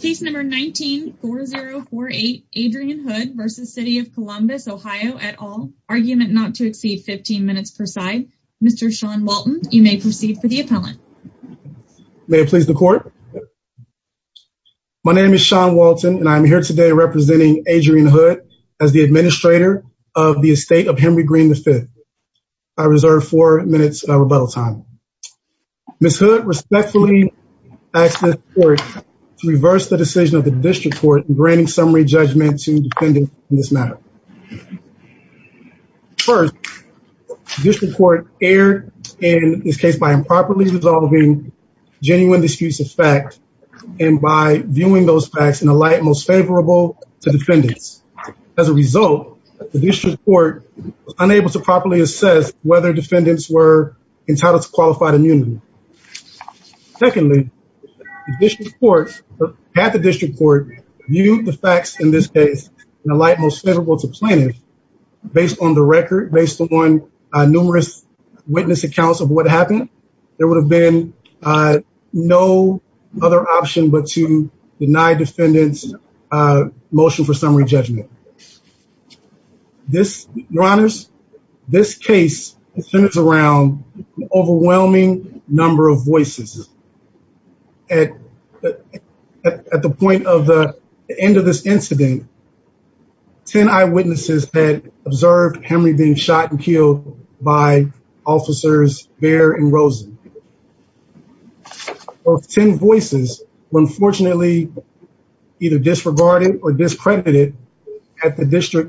Case number 19-4048, Adrienne Hood v. City of Columbus OH at all, argument not to exceed 15 minutes per side. Mr. Sean Walton, you may proceed for the appellant. May it please the court. My name is Sean Walton and I'm here today representing Adrienne Hood as the administrator of the estate of Henry Green V. I reserve four minutes of rebuttal time. Ms. Hood, respectfully ask the court to reverse the decision of the district court in granting summary judgment to defendants in this matter. First, district court erred in this case by improperly resolving genuine disputes of fact and by viewing those facts in a light most favorable to defendants. As a result, the district court was unable to do so. Secondly, the district court, half the district court, viewed the facts in this case in a light most favorable to plaintiffs. Based on the record, based upon numerous witness accounts of what happened, there would have been no other option but to deny defendants motion for summary judgment. This, your honors, this case centers around overwhelming number of voices. At the point of the end of this incident, ten eyewitnesses had observed Henry being shot and killed by officers Behr and Rosen. Of ten voices, unfortunately either disregarded or discredited at the duration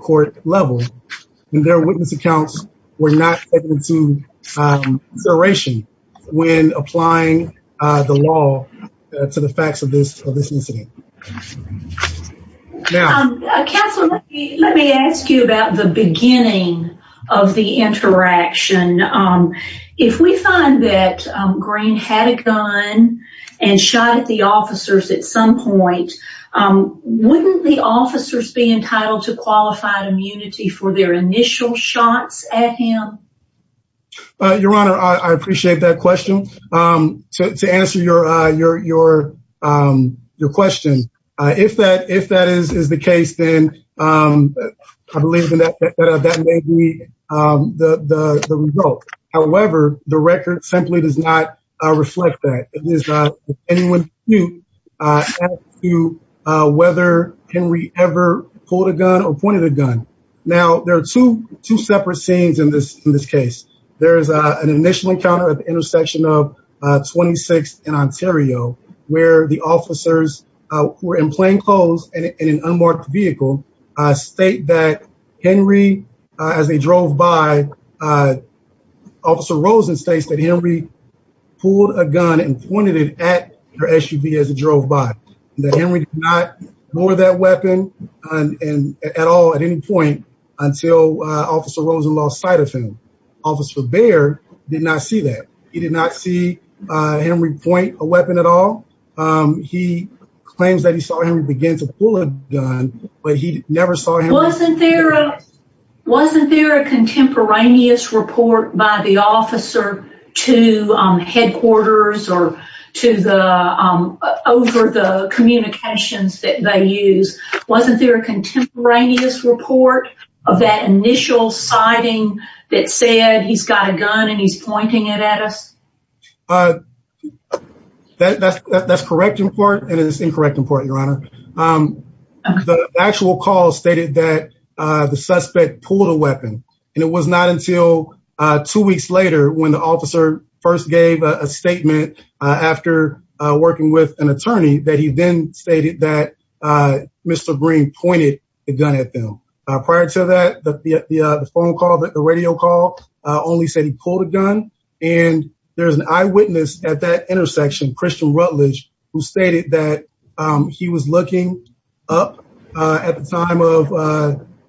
when applying the law to the facts of this incident. Let me ask you about the beginning of the interaction. If we find that Green had a gun and shot at the officers at some point, wouldn't the officers be entitled to qualified immunity for their initial shots at him? Your honor, I appreciate that question. To answer your question, if that is the case, then I believe that may be the result. However, the record simply does not reflect that. It is not anyone's view as to whether Henry ever pulled a gun or shot at him. There is an initial encounter at the intersection of 26th and Ontario where the officers, who were in plainclothes and in an unmarked vehicle, state that Henry, as they drove by, Officer Rosen states that Henry pulled a gun and pointed it at their SUV as it drove by. That Henry did not lower that weapon at all at any point until Officer Rosen lost sight of him. Officer Baird did not see that. He did not see Henry point a weapon at all. He claims that he saw Henry begin to pull a gun, but he never saw him- Wasn't there a contemporaneous report by the officer to headquarters or over the initial sighting that said he's got a gun and he's pointing it at us? That's correct in part and it is incorrect in part, your honor. The actual call stated that the suspect pulled a weapon and it was not until two weeks later when the officer first gave a statement after working with an attorney that he then stated that Mr. Green pointed the gun at him. Prior to that, the phone call, the radio call only said he pulled a gun and there's an eyewitness at that intersection, Christian Rutledge, who stated that he was looking up at the time of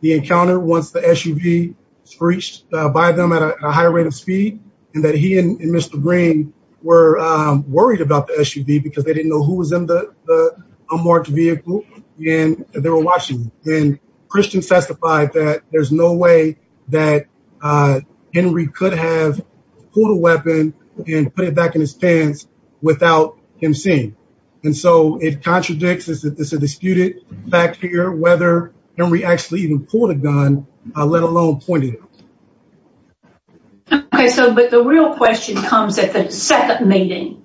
the encounter once the SUV screeched by them at a higher rate of speed and that he and Mr. Green were worried about the SUV because they didn't know who was in the unmarked vehicle and they testified that there's no way that Henry could have pulled a weapon and put it back in his pants without him seeing. And so it contradicts, it's a disputed fact here whether Henry actually even pulled a gun, let alone pointed it at us. Okay, so but the real question comes at the second meeting.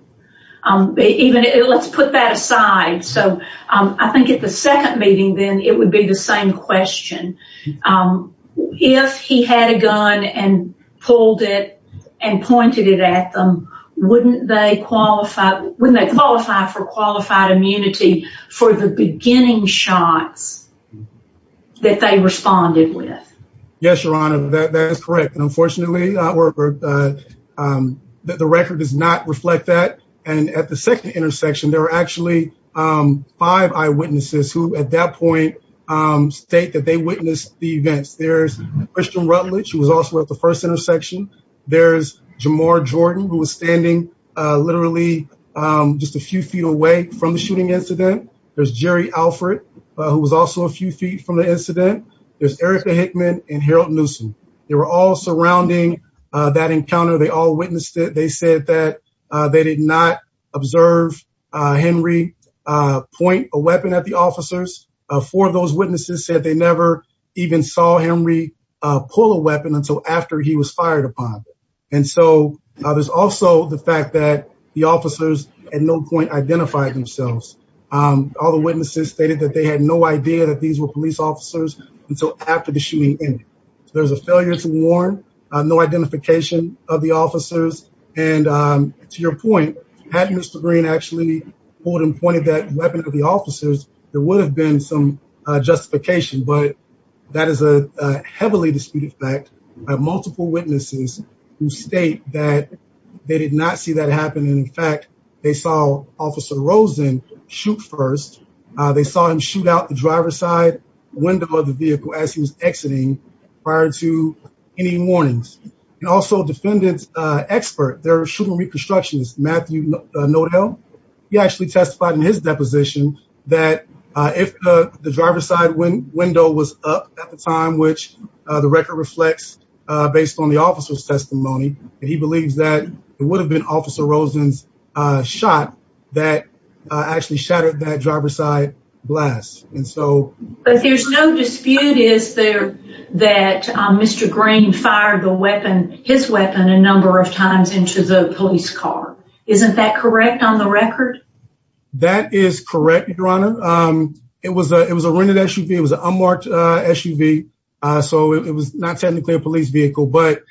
Even, let's put that aside, so I think at the second meeting then it would be the same question. If he had a gun and pulled it and pointed it at them, wouldn't they qualify wouldn't they qualify for qualified immunity for the beginning shots that they responded with? Yes, your honor, that is correct and unfortunately the record does not reflect that and at the second intersection there were actually five eyewitnesses who at that point state that they witnessed the events. There's Christian Rutledge who was also at the first intersection, there's Jamar Jordan who was standing literally just a few feet away from the shooting incident, there's Jerry Alfred who was also a few feet from the incident, there's Erica Hickman and Harold Newsome. They were all surrounding that encounter, they all witnessed it, they said that they did not observe Henry point a weapon at the officers. Four of those witnesses said they never even saw Henry pull a weapon until after he was fired upon and so there's also the fact that the officers at no point identified themselves. All the witnesses stated that they had no idea that these were police officers until after the shooting ended. There's a failure to warn, no identification of the officers and to your point, had Mr. Green actually pulled and pointed that weapon to the officers there would have been some justification but that is a heavily disputed fact by multiple witnesses who state that they did not see that happen and in fact they saw officer Rosen shoot first. They saw him shoot out the driver's side window of the vehicle as he was exiting prior to any warnings and also defendant's expert, their shooting reconstructionist Matthew Nodell, he actually testified in his deposition that if the driver's side window was up at the time which the record reflects based on the officer's believes that it would have been officer Rosen's shot that actually shattered that driver's side blast and so. But there's no dispute is there that Mr. Green fired the weapon, his weapon, a number of times into the police car. Isn't that correct on the record? That is correct, your honor. It was a rented SUV, it was an unmarked SUV so it was not technically a police vehicle but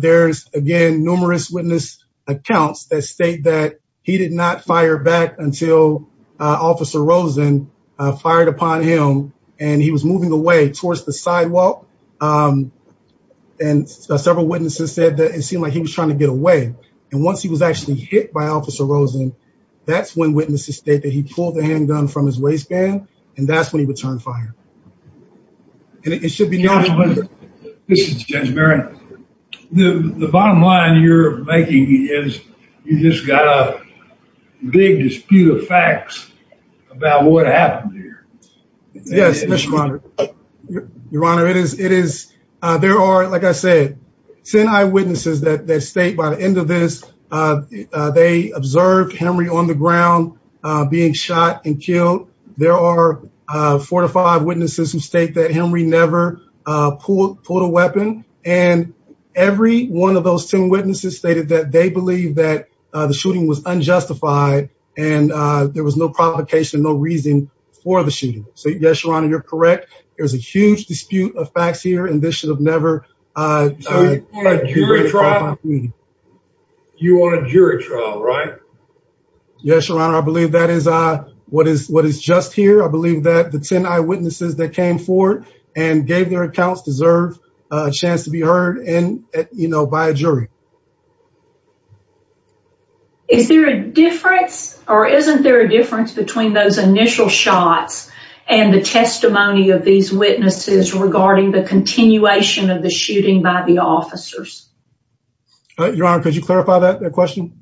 there's again numerous witness accounts that state that he did not fire back until officer Rosen fired upon him and he was moving away towards the sidewalk and several witnesses said that it seemed like he was trying to get away and once he was actually hit by officer Rosen that's when witnesses state that he pulled the handgun from his waistband and that's when he would turn fire and it should be known. This is Judge Barry, the bottom line you're making is you just got a big dispute of facts about what happened here. Yes, your honor, it is, it is, there are like I said, senior eyewitnesses that state by the end of this they observed Henry on the ground being shot and killed. There are four to five witnesses who state that Henry never pulled a weapon and every one of those ten witnesses stated that they believe that the shooting was unjustified and there was no provocation, no reason for the shooting. So yes, your honor, you're correct. There's a huge dispute of facts here and this should have never occurred. You're on a jury trial, right? Yes, your honor, I believe that is what is just here. I believe that the ten eyewitnesses that came forward and gave their accounts deserve a chance to be heard and you know by a jury. Is there a difference or isn't there a difference between those initial shots and the testimony of these witnesses regarding the continuation of the shooting by the officers? Your honor, could you clarify that question?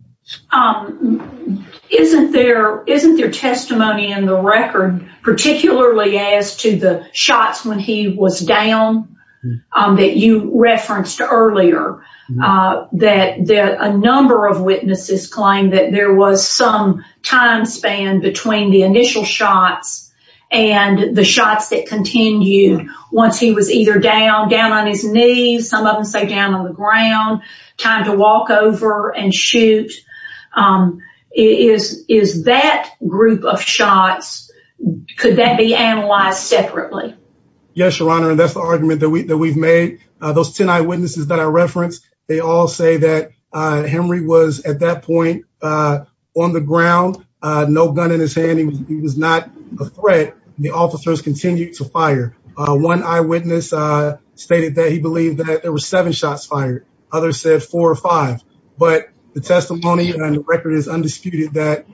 Isn't there, isn't there testimony in the record particularly as to the shots when he was down that you referenced earlier that a number of witnesses claim that there was some time span between the initial shots and the shots that continued once he was either down, down on his knees, some of them say down on the ground, time to walk over and shoot. Is that group of shots, could that be analyzed separately? Yes, your honor, and that's the argument that we've made. Those ten eyewitnesses that I referenced, they all say that Henry was at that point on the ground, no gun in his hand, he was not a threat, the officers continued to fire. One eyewitness stated that he believed that there were seven shots fired, others said four or five, but the testimony and the record is undisputed that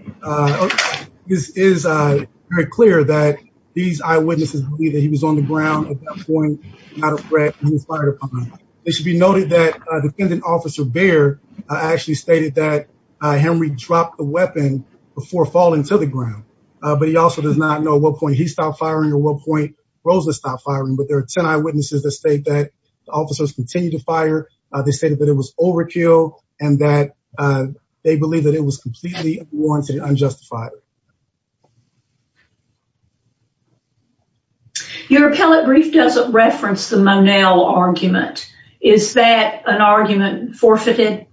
this is very clear that these eyewitnesses believe that he was on the ground at that point, not a threat, he was fired upon. It should be noted that defendant officer Baird actually stated that Henry dropped the weapon before falling to the ground, but he also does not know what point he stopped firing or what point Rosa stopped firing, but there are 10 eyewitnesses that state that the officers continued to fire, they stated that it was overkill, and that they believe that it was completely unwarranted and unjustified. Your appellate brief doesn't reference the Monell argument. Is that an argument forfeited?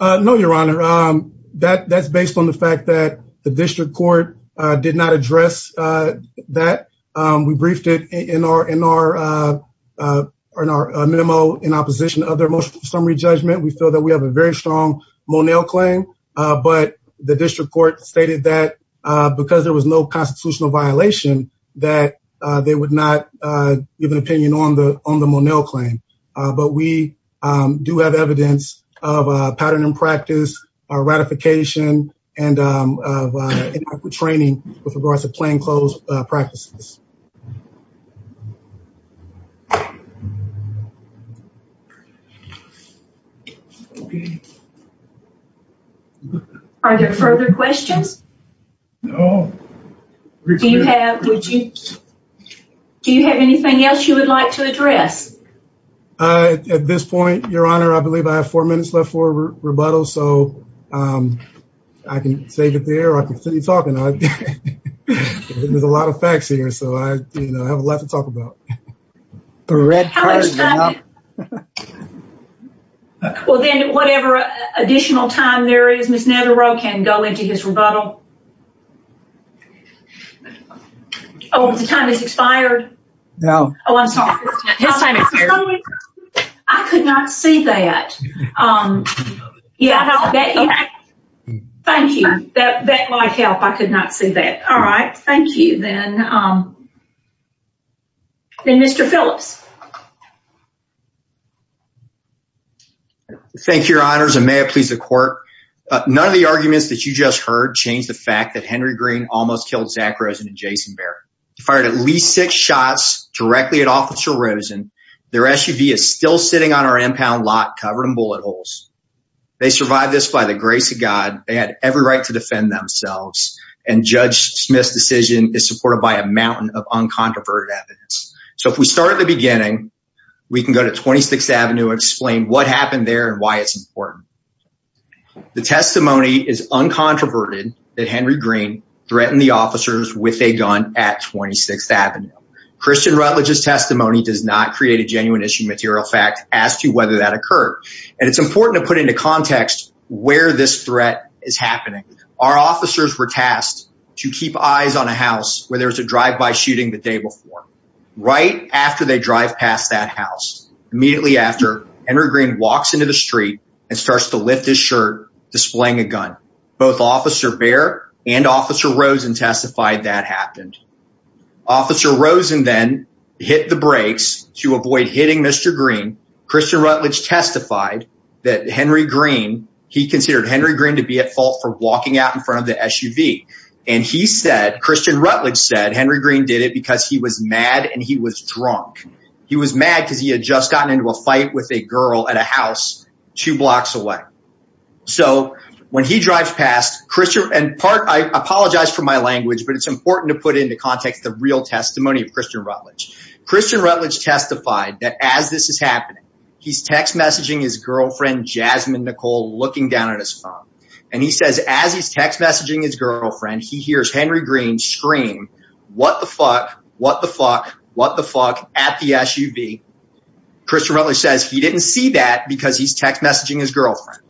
No, your honor, that's based on the fact that the district court did not address that. We briefed it in our memo in opposition of their motion for summary judgment. We feel that we have a very strong Monell claim, but the district court stated that because there was no constitutional violation that they would not give an opinion on the Monell claim, but we do have evidence of a pattern in practice, a ratification, and of inadequate training with regards to plainclothes practices. Okay. Are there further questions? No. Do you have anything else you would like to address? At this point, your honor, I believe I have four minutes left for rebuttal, so I can save it there and continue talking. There's a lot of facts here, so I have a lot to talk about. Well, then, whatever additional time there is, Ms. Navarro can go into his rebuttal. Oh, the time has expired? No. Oh, I'm sorry. I could not see that. Thank you. That might help. I could not see that. All right. Thank you. Then Mr. Phillips. Thank you, your honors, and may it please the court. None of the arguments that you just heard changed the fact that Henry Green almost killed Zach Rosen and Jason Barrett. He fired at least six shots directly at Officer Rosen. Their SUV is still sitting on our impound lot, covered in bullet holes. They survived this by the grace of God. They had every right to defend themselves. And Judge Smith's decision is supported by a mountain of uncontroverted evidence. So if we start at the beginning, we can go to 26th Avenue and explain what happened there and why it's important. The testimony is uncontroverted that Henry Green threatened the officers with a gun at 26th Avenue. Christian Rutledge's testimony does not create a genuine material fact as to whether that occurred. And it's important to put into context where this threat is happening. Our officers were tasked to keep eyes on a house where there was a drive-by shooting the day before. Right after they drive past that house, immediately after, Henry Green walks into the street and starts to lift his shirt, displaying a gun. Both Officer Baer and Officer Rosen then hit the brakes to avoid hitting Mr. Green. Christian Rutledge testified that Henry Green, he considered Henry Green to be at fault for walking out in front of the SUV. And he said, Christian Rutledge said Henry Green did it because he was mad and he was drunk. He was mad because he had just gotten into a fight with a girl at a house two blocks away. So when testimony of Christian Rutledge. Christian Rutledge testified that as this is happening, he's text messaging his girlfriend, Jasmine Nicole, looking down at his phone. And he says, as he's text messaging his girlfriend, he hears Henry Green scream, what the fuck, what the fuck, what the fuck at the SUV. Christian Rutledge says he didn't see that because he's text messaging his girlfriend.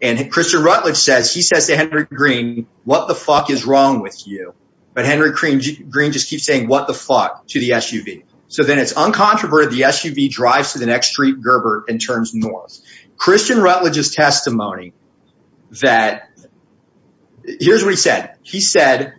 And Christian Rutledge says, he says to Henry Green, what the fuck is wrong with you? But Henry Green just keeps saying what the fuck to the SUV. So then it's uncontroverted. The SUV drives to the next street Gerber and turns north. Christian Rutledge's testimony that here's what he said. He said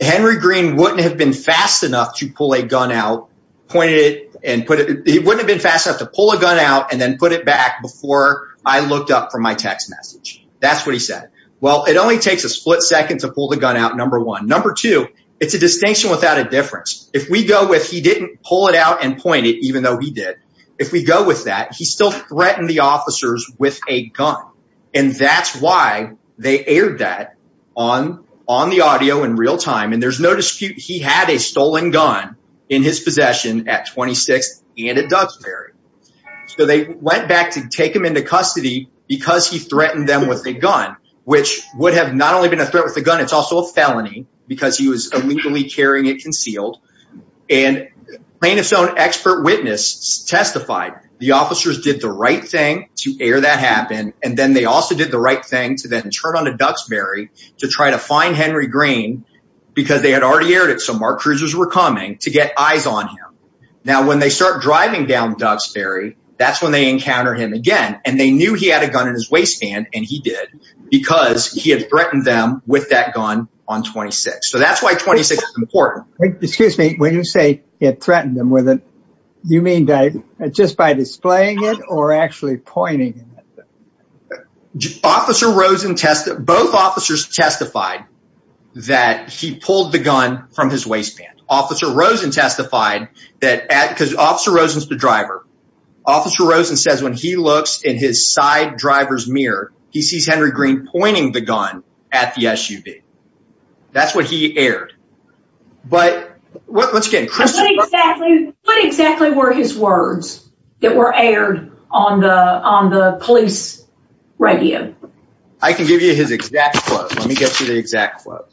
Henry Green wouldn't have been fast enough to pull a gun out, pointed it and put it. He wouldn't have been fast enough to pull a gun out and then put it back before I looked up for my text message. That's what he said. Well, it only takes a split second to pull the gun out, number one. Number two, it's a distinction without a difference. If we go with he didn't pull it out and point it, even though he did. If we go with that, he still threatened the officers with a gun. And that's why they aired that on the audio in real time. And there's no dispute he had a stolen gun in his possession at 26th and at Duxbury. So they went back to take him into custody because he threatened them with a gun, which would have not only been a threat with the gun, it's also a felony because he was illegally carrying it concealed. And plaintiff's own expert witness testified the officers did the right thing to air that happen. And then they also did the right thing to then turn on a Duxbury to try to find Henry Green because they had already aired it. So Mark Cruisers were coming to get eyes on him. Now, when they start driving down Duxbury, that's when they encounter him again. And they knew he had a gun in his waistband and he did because he had threatened them with that gun on 26th. So that's why 26th is important. Excuse me, when you say he had threatened them with it, you mean just by displaying it or actually pointing it? Both officers testified that he pulled the gun from his waistband. Officer Rosen testified that because Officer Rosen is the driver. Officer Rosen says when he looks in his side driver's mirror, he sees Henry Green pointing the gun at the SUV. That's what he aired. But what exactly were his words that were aired on the police radio? I can give you his exact quote. Let me get to the exact quote.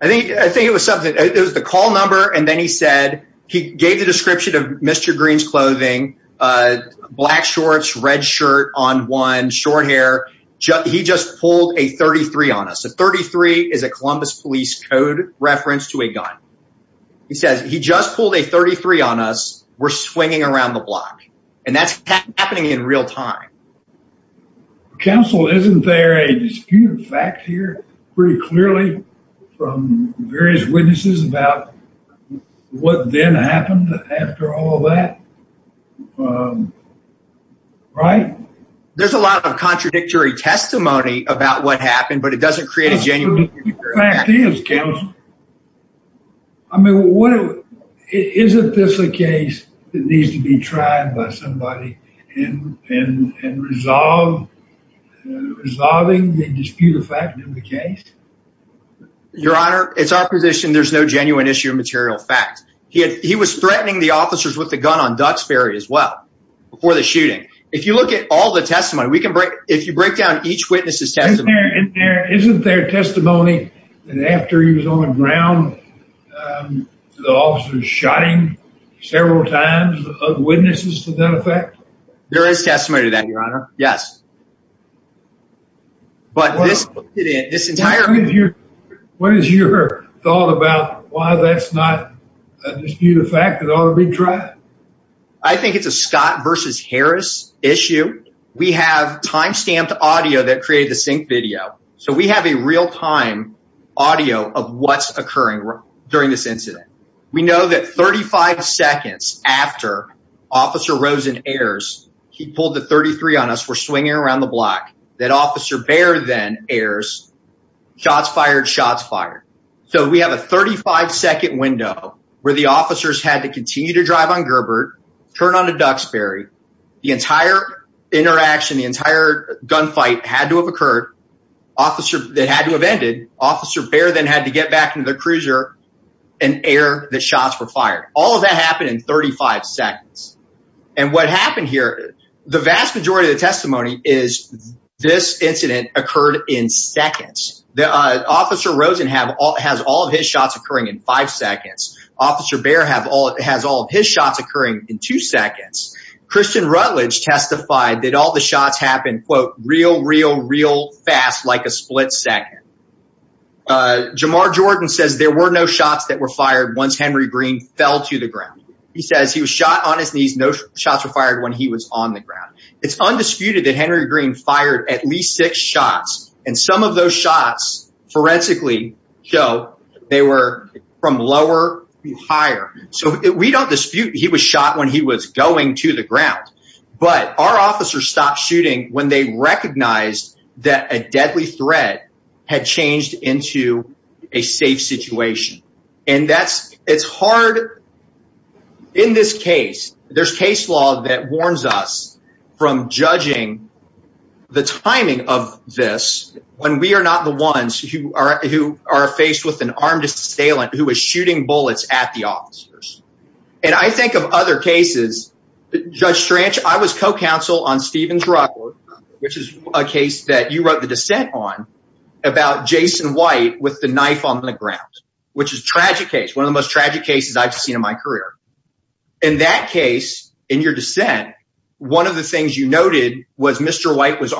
I think it was something. It was the call number and then he said he gave the description of Mr. Green's clothing, black shorts, red shirt on one, short hair. He just pulled a 33 on us. A 33 is a Columbus Police Code reference to a gun. He says he just pulled a 33 on us. We're swinging around the block. And that's happening in real time. Well, Counsel, isn't there a disputed fact here pretty clearly from various witnesses about what then happened after all that? Right? There's a lot of contradictory testimony about what happened, but it doesn't create a genuine... It's a fact, Counsel. I mean, isn't this a case that needs to be tried by somebody and resolve, resolving the disputed fact of the case? Your Honor, it's our position there's no genuine issue of material fact. He was threatening the officers with the gun on Duxbury as well before the shooting. If you look at all the testimony, we can break, if you break down each witness's testimony. Isn't there testimony that after he was on the ground, the officers shot him several times of witnesses to that effect? There is testimony to that, Your Honor. Yes. What is your thought about why that's not a disputed fact that ought to be tried? I think it's a Scott versus Harris issue. We have timestamped audio that created the sync video. So we have a real time audio of what's occurring during this incident. We know that 35 seconds after Officer Rosen airs, he pulled the 33 on us, we're swinging around the block, that Officer Baer then airs, shots fired, shots fired. So we have a 35-second window where the officers had to continue to drive on Gerber, turn onto Duxbury. The entire interaction, the entire gunfight had to have occurred. They had to have ended. Officer Baer then had to get back to the cruiser and air the shots were fired. All of that happened in 35 seconds. And what happened here, the vast majority of the testimony is this incident occurred in seconds. Officer Rosen has all of his shots occurring in five seconds. Officer Baer has all of his shots occurring in two seconds. Christian Rutledge testified that all the shots happened, quote, real fast, like a split second. Jamar Jordan says there were no shots that were fired once Henry Green fell to the ground. He says he was shot on his knees. No shots were fired when he was on the ground. It's undisputed that Henry Green fired at least six shots. And some of those shots forensically show they were from lower to higher. So we don't dispute he was shot when he was going to the ground. But our officers stopped shooting when they recognized that a deadly threat had changed into a safe situation. And it's hard in this case. There's case law that warns us from judging the timing of this when we are not the ones who are faced with an armed assailant who is shooting bullets at the officers. And I think of other cases. Judge Strange, I was co-counsel on Steven's record, which is a case that you wrote the dissent on about Jason White with the knife on the ground, which is a tragic case, one of the most tragic cases I've seen in my career. In that case, in your dissent, one of the things you noted was Mr. White was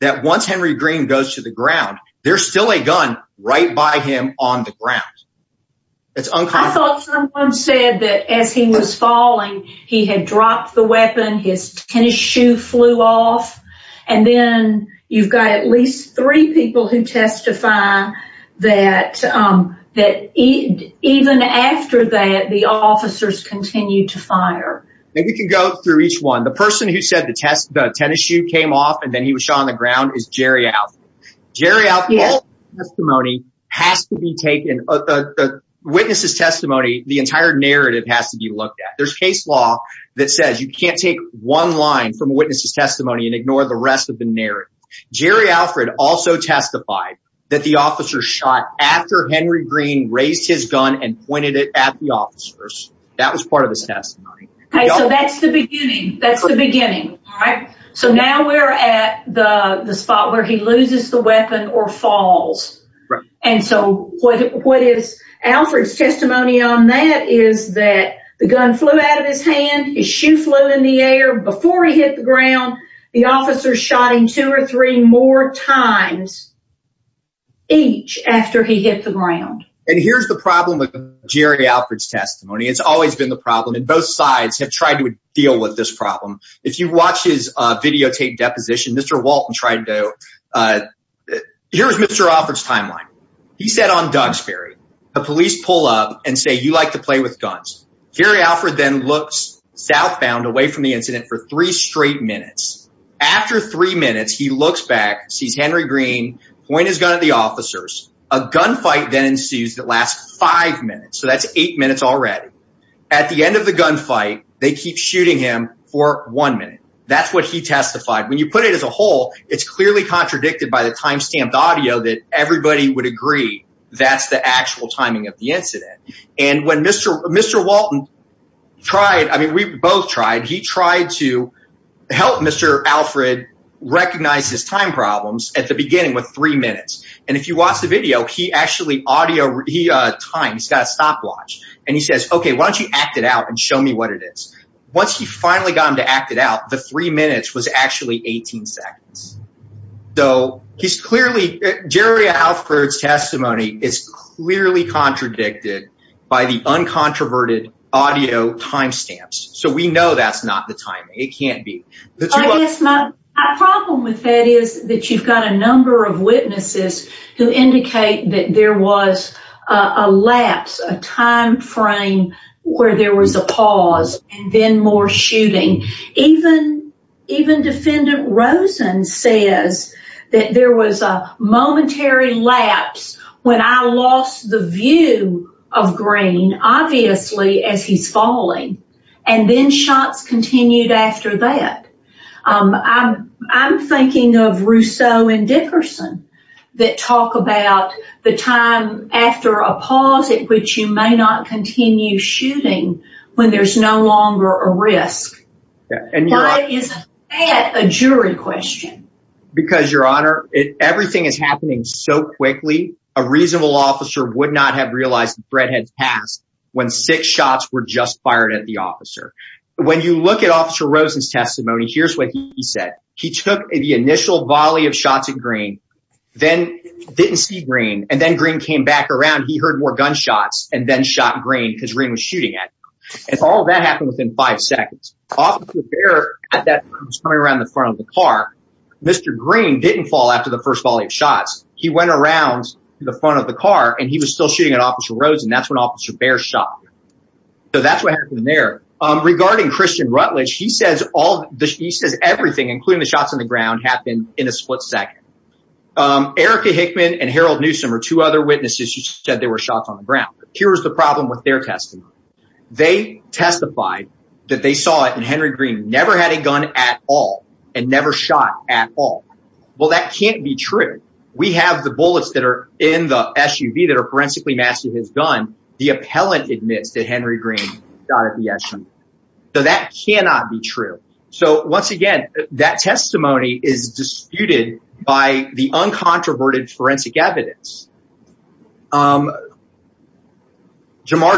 that once Henry Green goes to the ground, there's still a gun right by him on the ground. I thought someone said that as he was falling, he had dropped the weapon, his tennis shoe flew off. And then you've got at least three people who testify that even after that, the officers continued to fire. Maybe we can go through each one. The person who said the tennis shoe came off and then he was shot on the ground is Jerry Alfred. The witness's testimony, the entire narrative has to be looked at. There's case law that says you can't take one line from a witness's testimony and ignore the rest of the narrative. Jerry Alfred also testified that the officer shot after Henry Green raised his gun and pointed it at the officers. That was part of his testimony. So that's the beginning. That's the beginning. So now we're at the spot where he loses the weapon or falls. And so what is Alfred's testimony on that is that the gun flew out of his hand, his shoe flew in the air. Before he hit the ground, the officers shot him two or three more times each after he hit the ground. And here's the problem with Jerry Alfred's testimony. It's always been the problem and both sides have tried to deal with this problem. If you watch his videotaped deposition, Mr. Walton tried to... Here's Mr. Alfred's timeline. He said on Dugsbury, the police pull up and say, you like to play with guns. Jerry Alfred then looks southbound away from the incident for three straight minutes. After three minutes, he looks back, sees Henry Green, point his gun at the officers. A gunfight then ensues that lasts five minutes. So that's eight minutes already. At the end of the gunfight, they keep shooting him for one minute. That's what he testified. When you put it as a whole, it's clearly contradicted by the timestamped audio that everybody would agree that's the actual timing of the incident. And when Mr. Walton tried, I mean, we both tried. He tried to help Mr. Alfred recognize his time problems at the time. He says, okay, why don't you act it out and show me what it is. Once he finally got him to act it out, the three minutes was actually 18 seconds. So he's clearly... Jerry Alfred's testimony is clearly contradicted by the uncontroverted audio timestamps. So we know that's not the timing. It can't be. I guess my problem with that is that you've got a number of where there was a pause and then more shooting. Even defendant Rosen says that there was a momentary lapse when I lost the view of Green, obviously, as he's falling. And then shots continued after that. I'm thinking of Rousseau and Dickerson that talk about the time after a shooting when there's no longer a risk. Why is that a jury question? Because, Your Honor, everything is happening so quickly. A reasonable officer would not have realized the threat had passed when six shots were just fired at the officer. When you look at Officer Rosen's testimony, here's what he said. He took the initial volley of shots at Green, then didn't see Green, and then Green came back around. He heard more gunshots and then shot Green because Green was shooting at him. And all of that happened within five seconds. Officer Baer, at that point, was coming around the front of the car. Mr. Green didn't fall after the first volley of shots. He went around to the front of the car, and he was still shooting at Officer Rosen. That's when Officer Baer shot him. So that's what happened there. Regarding Christian Rutledge, he says everything, including the shots on the ground, happened in a split second. Erica Hickman and Harold Newsom are two other witnesses who said they were shot on the ground. Here's the problem with their testimony. They testified that they saw it and Henry Green never had a gun at all and never shot at all. Well, that can't be true. We have the bullets that are in the SUV that are forensically matched to his gun. The appellant admits that Henry Green shot at the uncontroverted forensic evidence. Jamar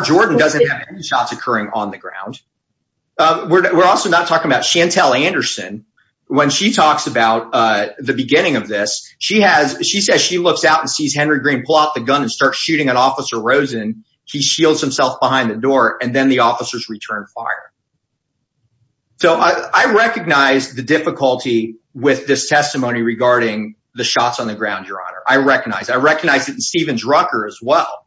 Jordan doesn't have any shots occurring on the ground. We're also not talking about Chantelle Anderson. When she talks about the beginning of this, she says she looks out and sees Henry Green pull out the gun and start shooting at Officer Rosen. He shields himself behind the door, and then the officers return fire. So I recognize the difficulty with this testimony regarding the shots on the ground, Your Honor. I recognize it. I recognize it in Stevens-Rucker as well.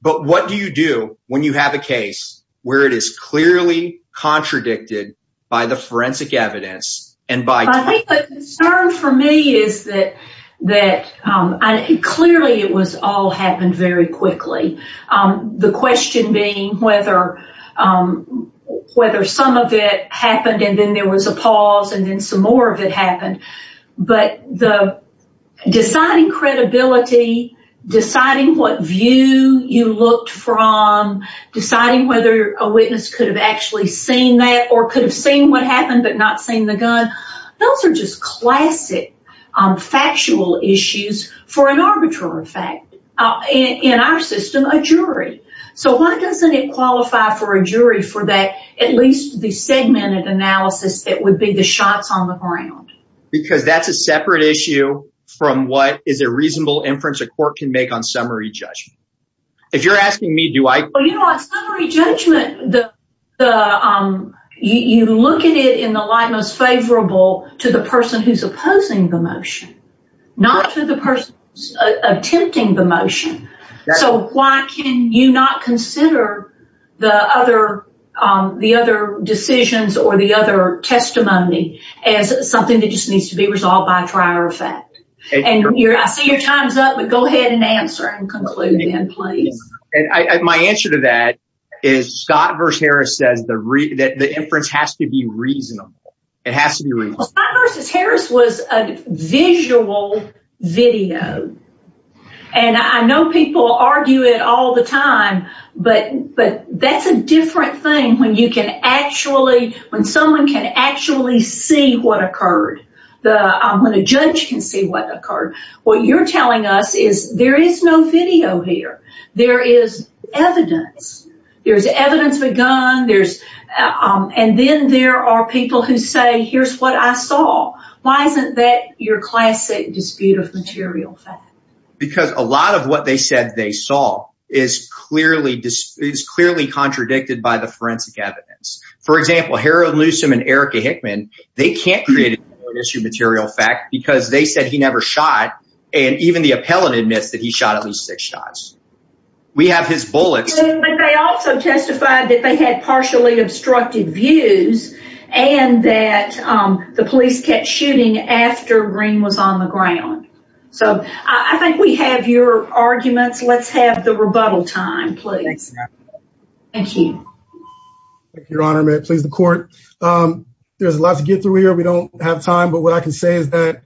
But what do you do when you have a case where it is clearly contradicted by the forensic evidence and by- I think the concern for me is that clearly it was all happened very quickly. The question being whether some of it happened and then there was a pause and then some more of it happened. But deciding credibility, deciding what view you looked from, deciding whether a witness could have actually seen that or could have seen what happened but not seen the gun, those are just for a jury for that. At least the segmented analysis, it would be the shots on the ground. Because that's a separate issue from what is a reasonable inference a court can make on summary judgment. If you're asking me, do I- On summary judgment, you look at it in the light most favorable to the person who's opposing the motion, not to the person attempting the motion. So why can you not consider the other decisions or the other testimony as something that just needs to be resolved by trial or fact? I see your time's up, but go ahead and answer and conclude. My answer to that is Scott v. Harris says the inference has to be reasonable. It has to be reasonable. Scott v. Harris was a visual video. I know people argue it all the time, but that's a different thing when someone can actually see what occurred, when a judge can see what occurred. What you're telling us is there is no video here. There is evidence. There's evidence of a gun. And then there are people who say, here's what I saw. Why isn't that your classic dispute of material fact? Because a lot of what they said they saw is clearly contradicted by the forensic evidence. For example, Harold Newsom and Erica Hickman, they can't create an issue of material fact because they said he never shot. And even the appellant admits that he shot at least six times. We have his bullets. But they also testified that they had partially obstructed views and that the police kept shooting after Greene was on the ground. So I think we have your arguments. Let's have the rebuttal time, please. Thank you. Your Honor, may it please the court. There's a lot to get through here. We don't have time, but what I can say is that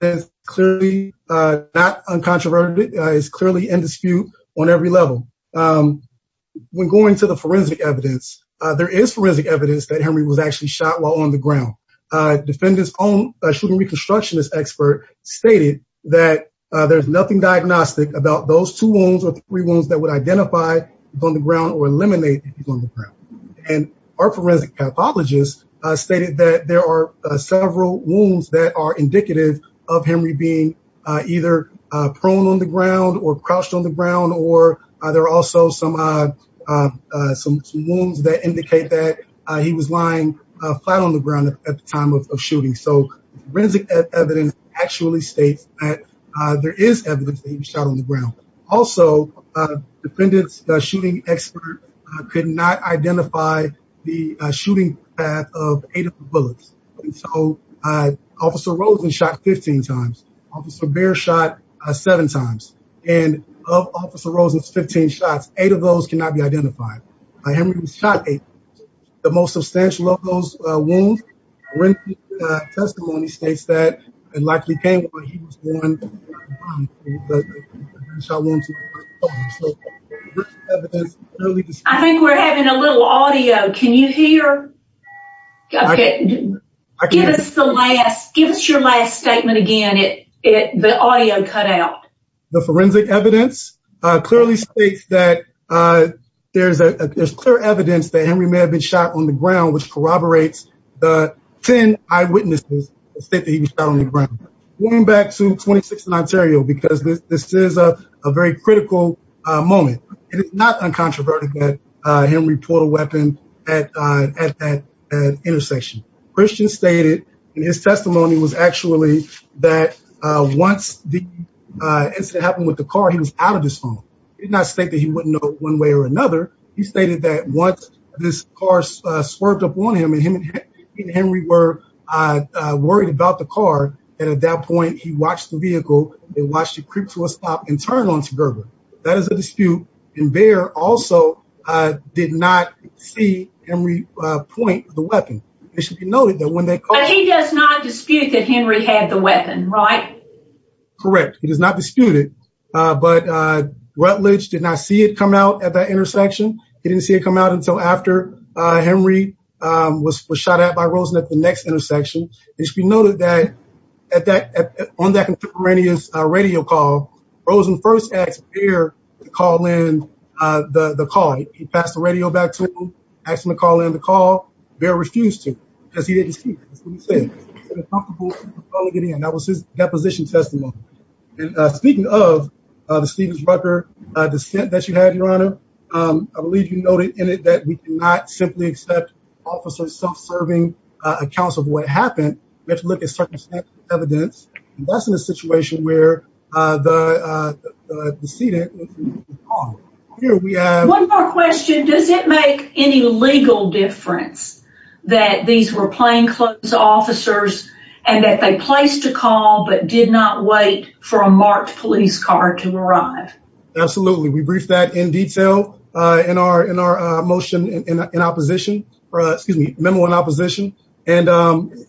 it's clearly not uncontroverted. It's clearly in dispute on every level. When going to the forensic evidence, there is forensic evidence that Henry was actually shot while on the ground. Defendant's own shooting reconstructionist expert stated that there's nothing diagnostic about those two wounds or three wounds that would identify he was on the ground or eliminate he was on the ground. And our forensic pathologist stated that there are several wounds that are indicative of Henry being either prone on the ground or crouched on the ground. Or there are also some wounds that indicate that he was lying flat on the ground at the time of shooting. So forensic evidence actually states that there is evidence that he was shot on the ground. Also, defendant's shooting expert could not identify the shooting path of eight of the bullets. And so, Officer Rosen shot 15 times. Officer Behr shot seven times. And of Officer Rosen's 15 shots, eight of those cannot be identified. Henry was shot eight times. The most substantial of those wounds, Wren's testimony states that it likely came when he was on the ground. I think we're having a little audio. Can you hear? Give us your last statement again. The audio cut out. The forensic evidence clearly states that there's clear evidence that Henry may have been shot on the ground, which corroborates the 10 eyewitnesses that state that he was shot on the ground. Going back to 26th and Ontario, because this is a very critical moment. It is not uncontroverted that Henry pulled a weapon at that intersection. Christian stated in his testimony was actually that once the incident happened with the car, he was out of his home. He did not state that he wouldn't know one way or another. He stated that once this car swerved up on him and him were worried about the car. And at that point he watched the vehicle. They watched it creep to a stop and turn onto Gerber. That is a dispute. And Behr also did not see Henry point the weapon. It should be noted that when they- But he does not dispute that Henry had the weapon, right? Correct. He does not dispute it. But Rutledge did not see it come out at that intersection. He didn't see it come out until after Henry was shot at by Rosen at the next intersection. It should be noted that on that contemporaneous radio call, Rosen first asked Behr to call in the call. He passed the radio back to him, asked him to call in the call. Behr refused to, because he didn't dispute it. That's what he said. He said, I'm comfortable calling it in. That was his deposition testimony. Speaking of the Stevens-Rucker dissent that you had, Your Honor, I believe you noted in it that we cannot simply accept officers' self-serving accounts of what happened. We have to look at circumstantial evidence. And that's in a situation where the decedent- One more question. Does it make any legal difference that these were plainclothes officers and that they placed a call but did not wait for a marked police car to arrive? Absolutely. We briefed that in detail in our motion in opposition, excuse me, memo in opposition. And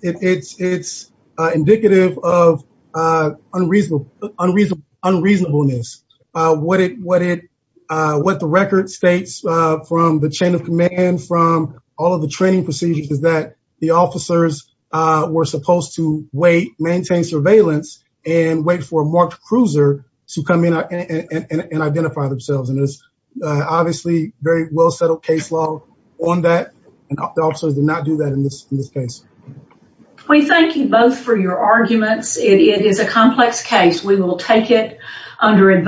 it's indicative of unreasonableness. What the record states from the chain of command, from all of the training procedures is that the officers were supposed to wait, maintain surveillance, and wait for a marked cruiser to come in and identify themselves. And it's obviously very well-settled case law on that. And the officers did not do that in this case. We thank you both for your arguments. It is a complex case. We will take it with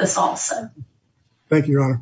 us also. Thank you, Your Honor.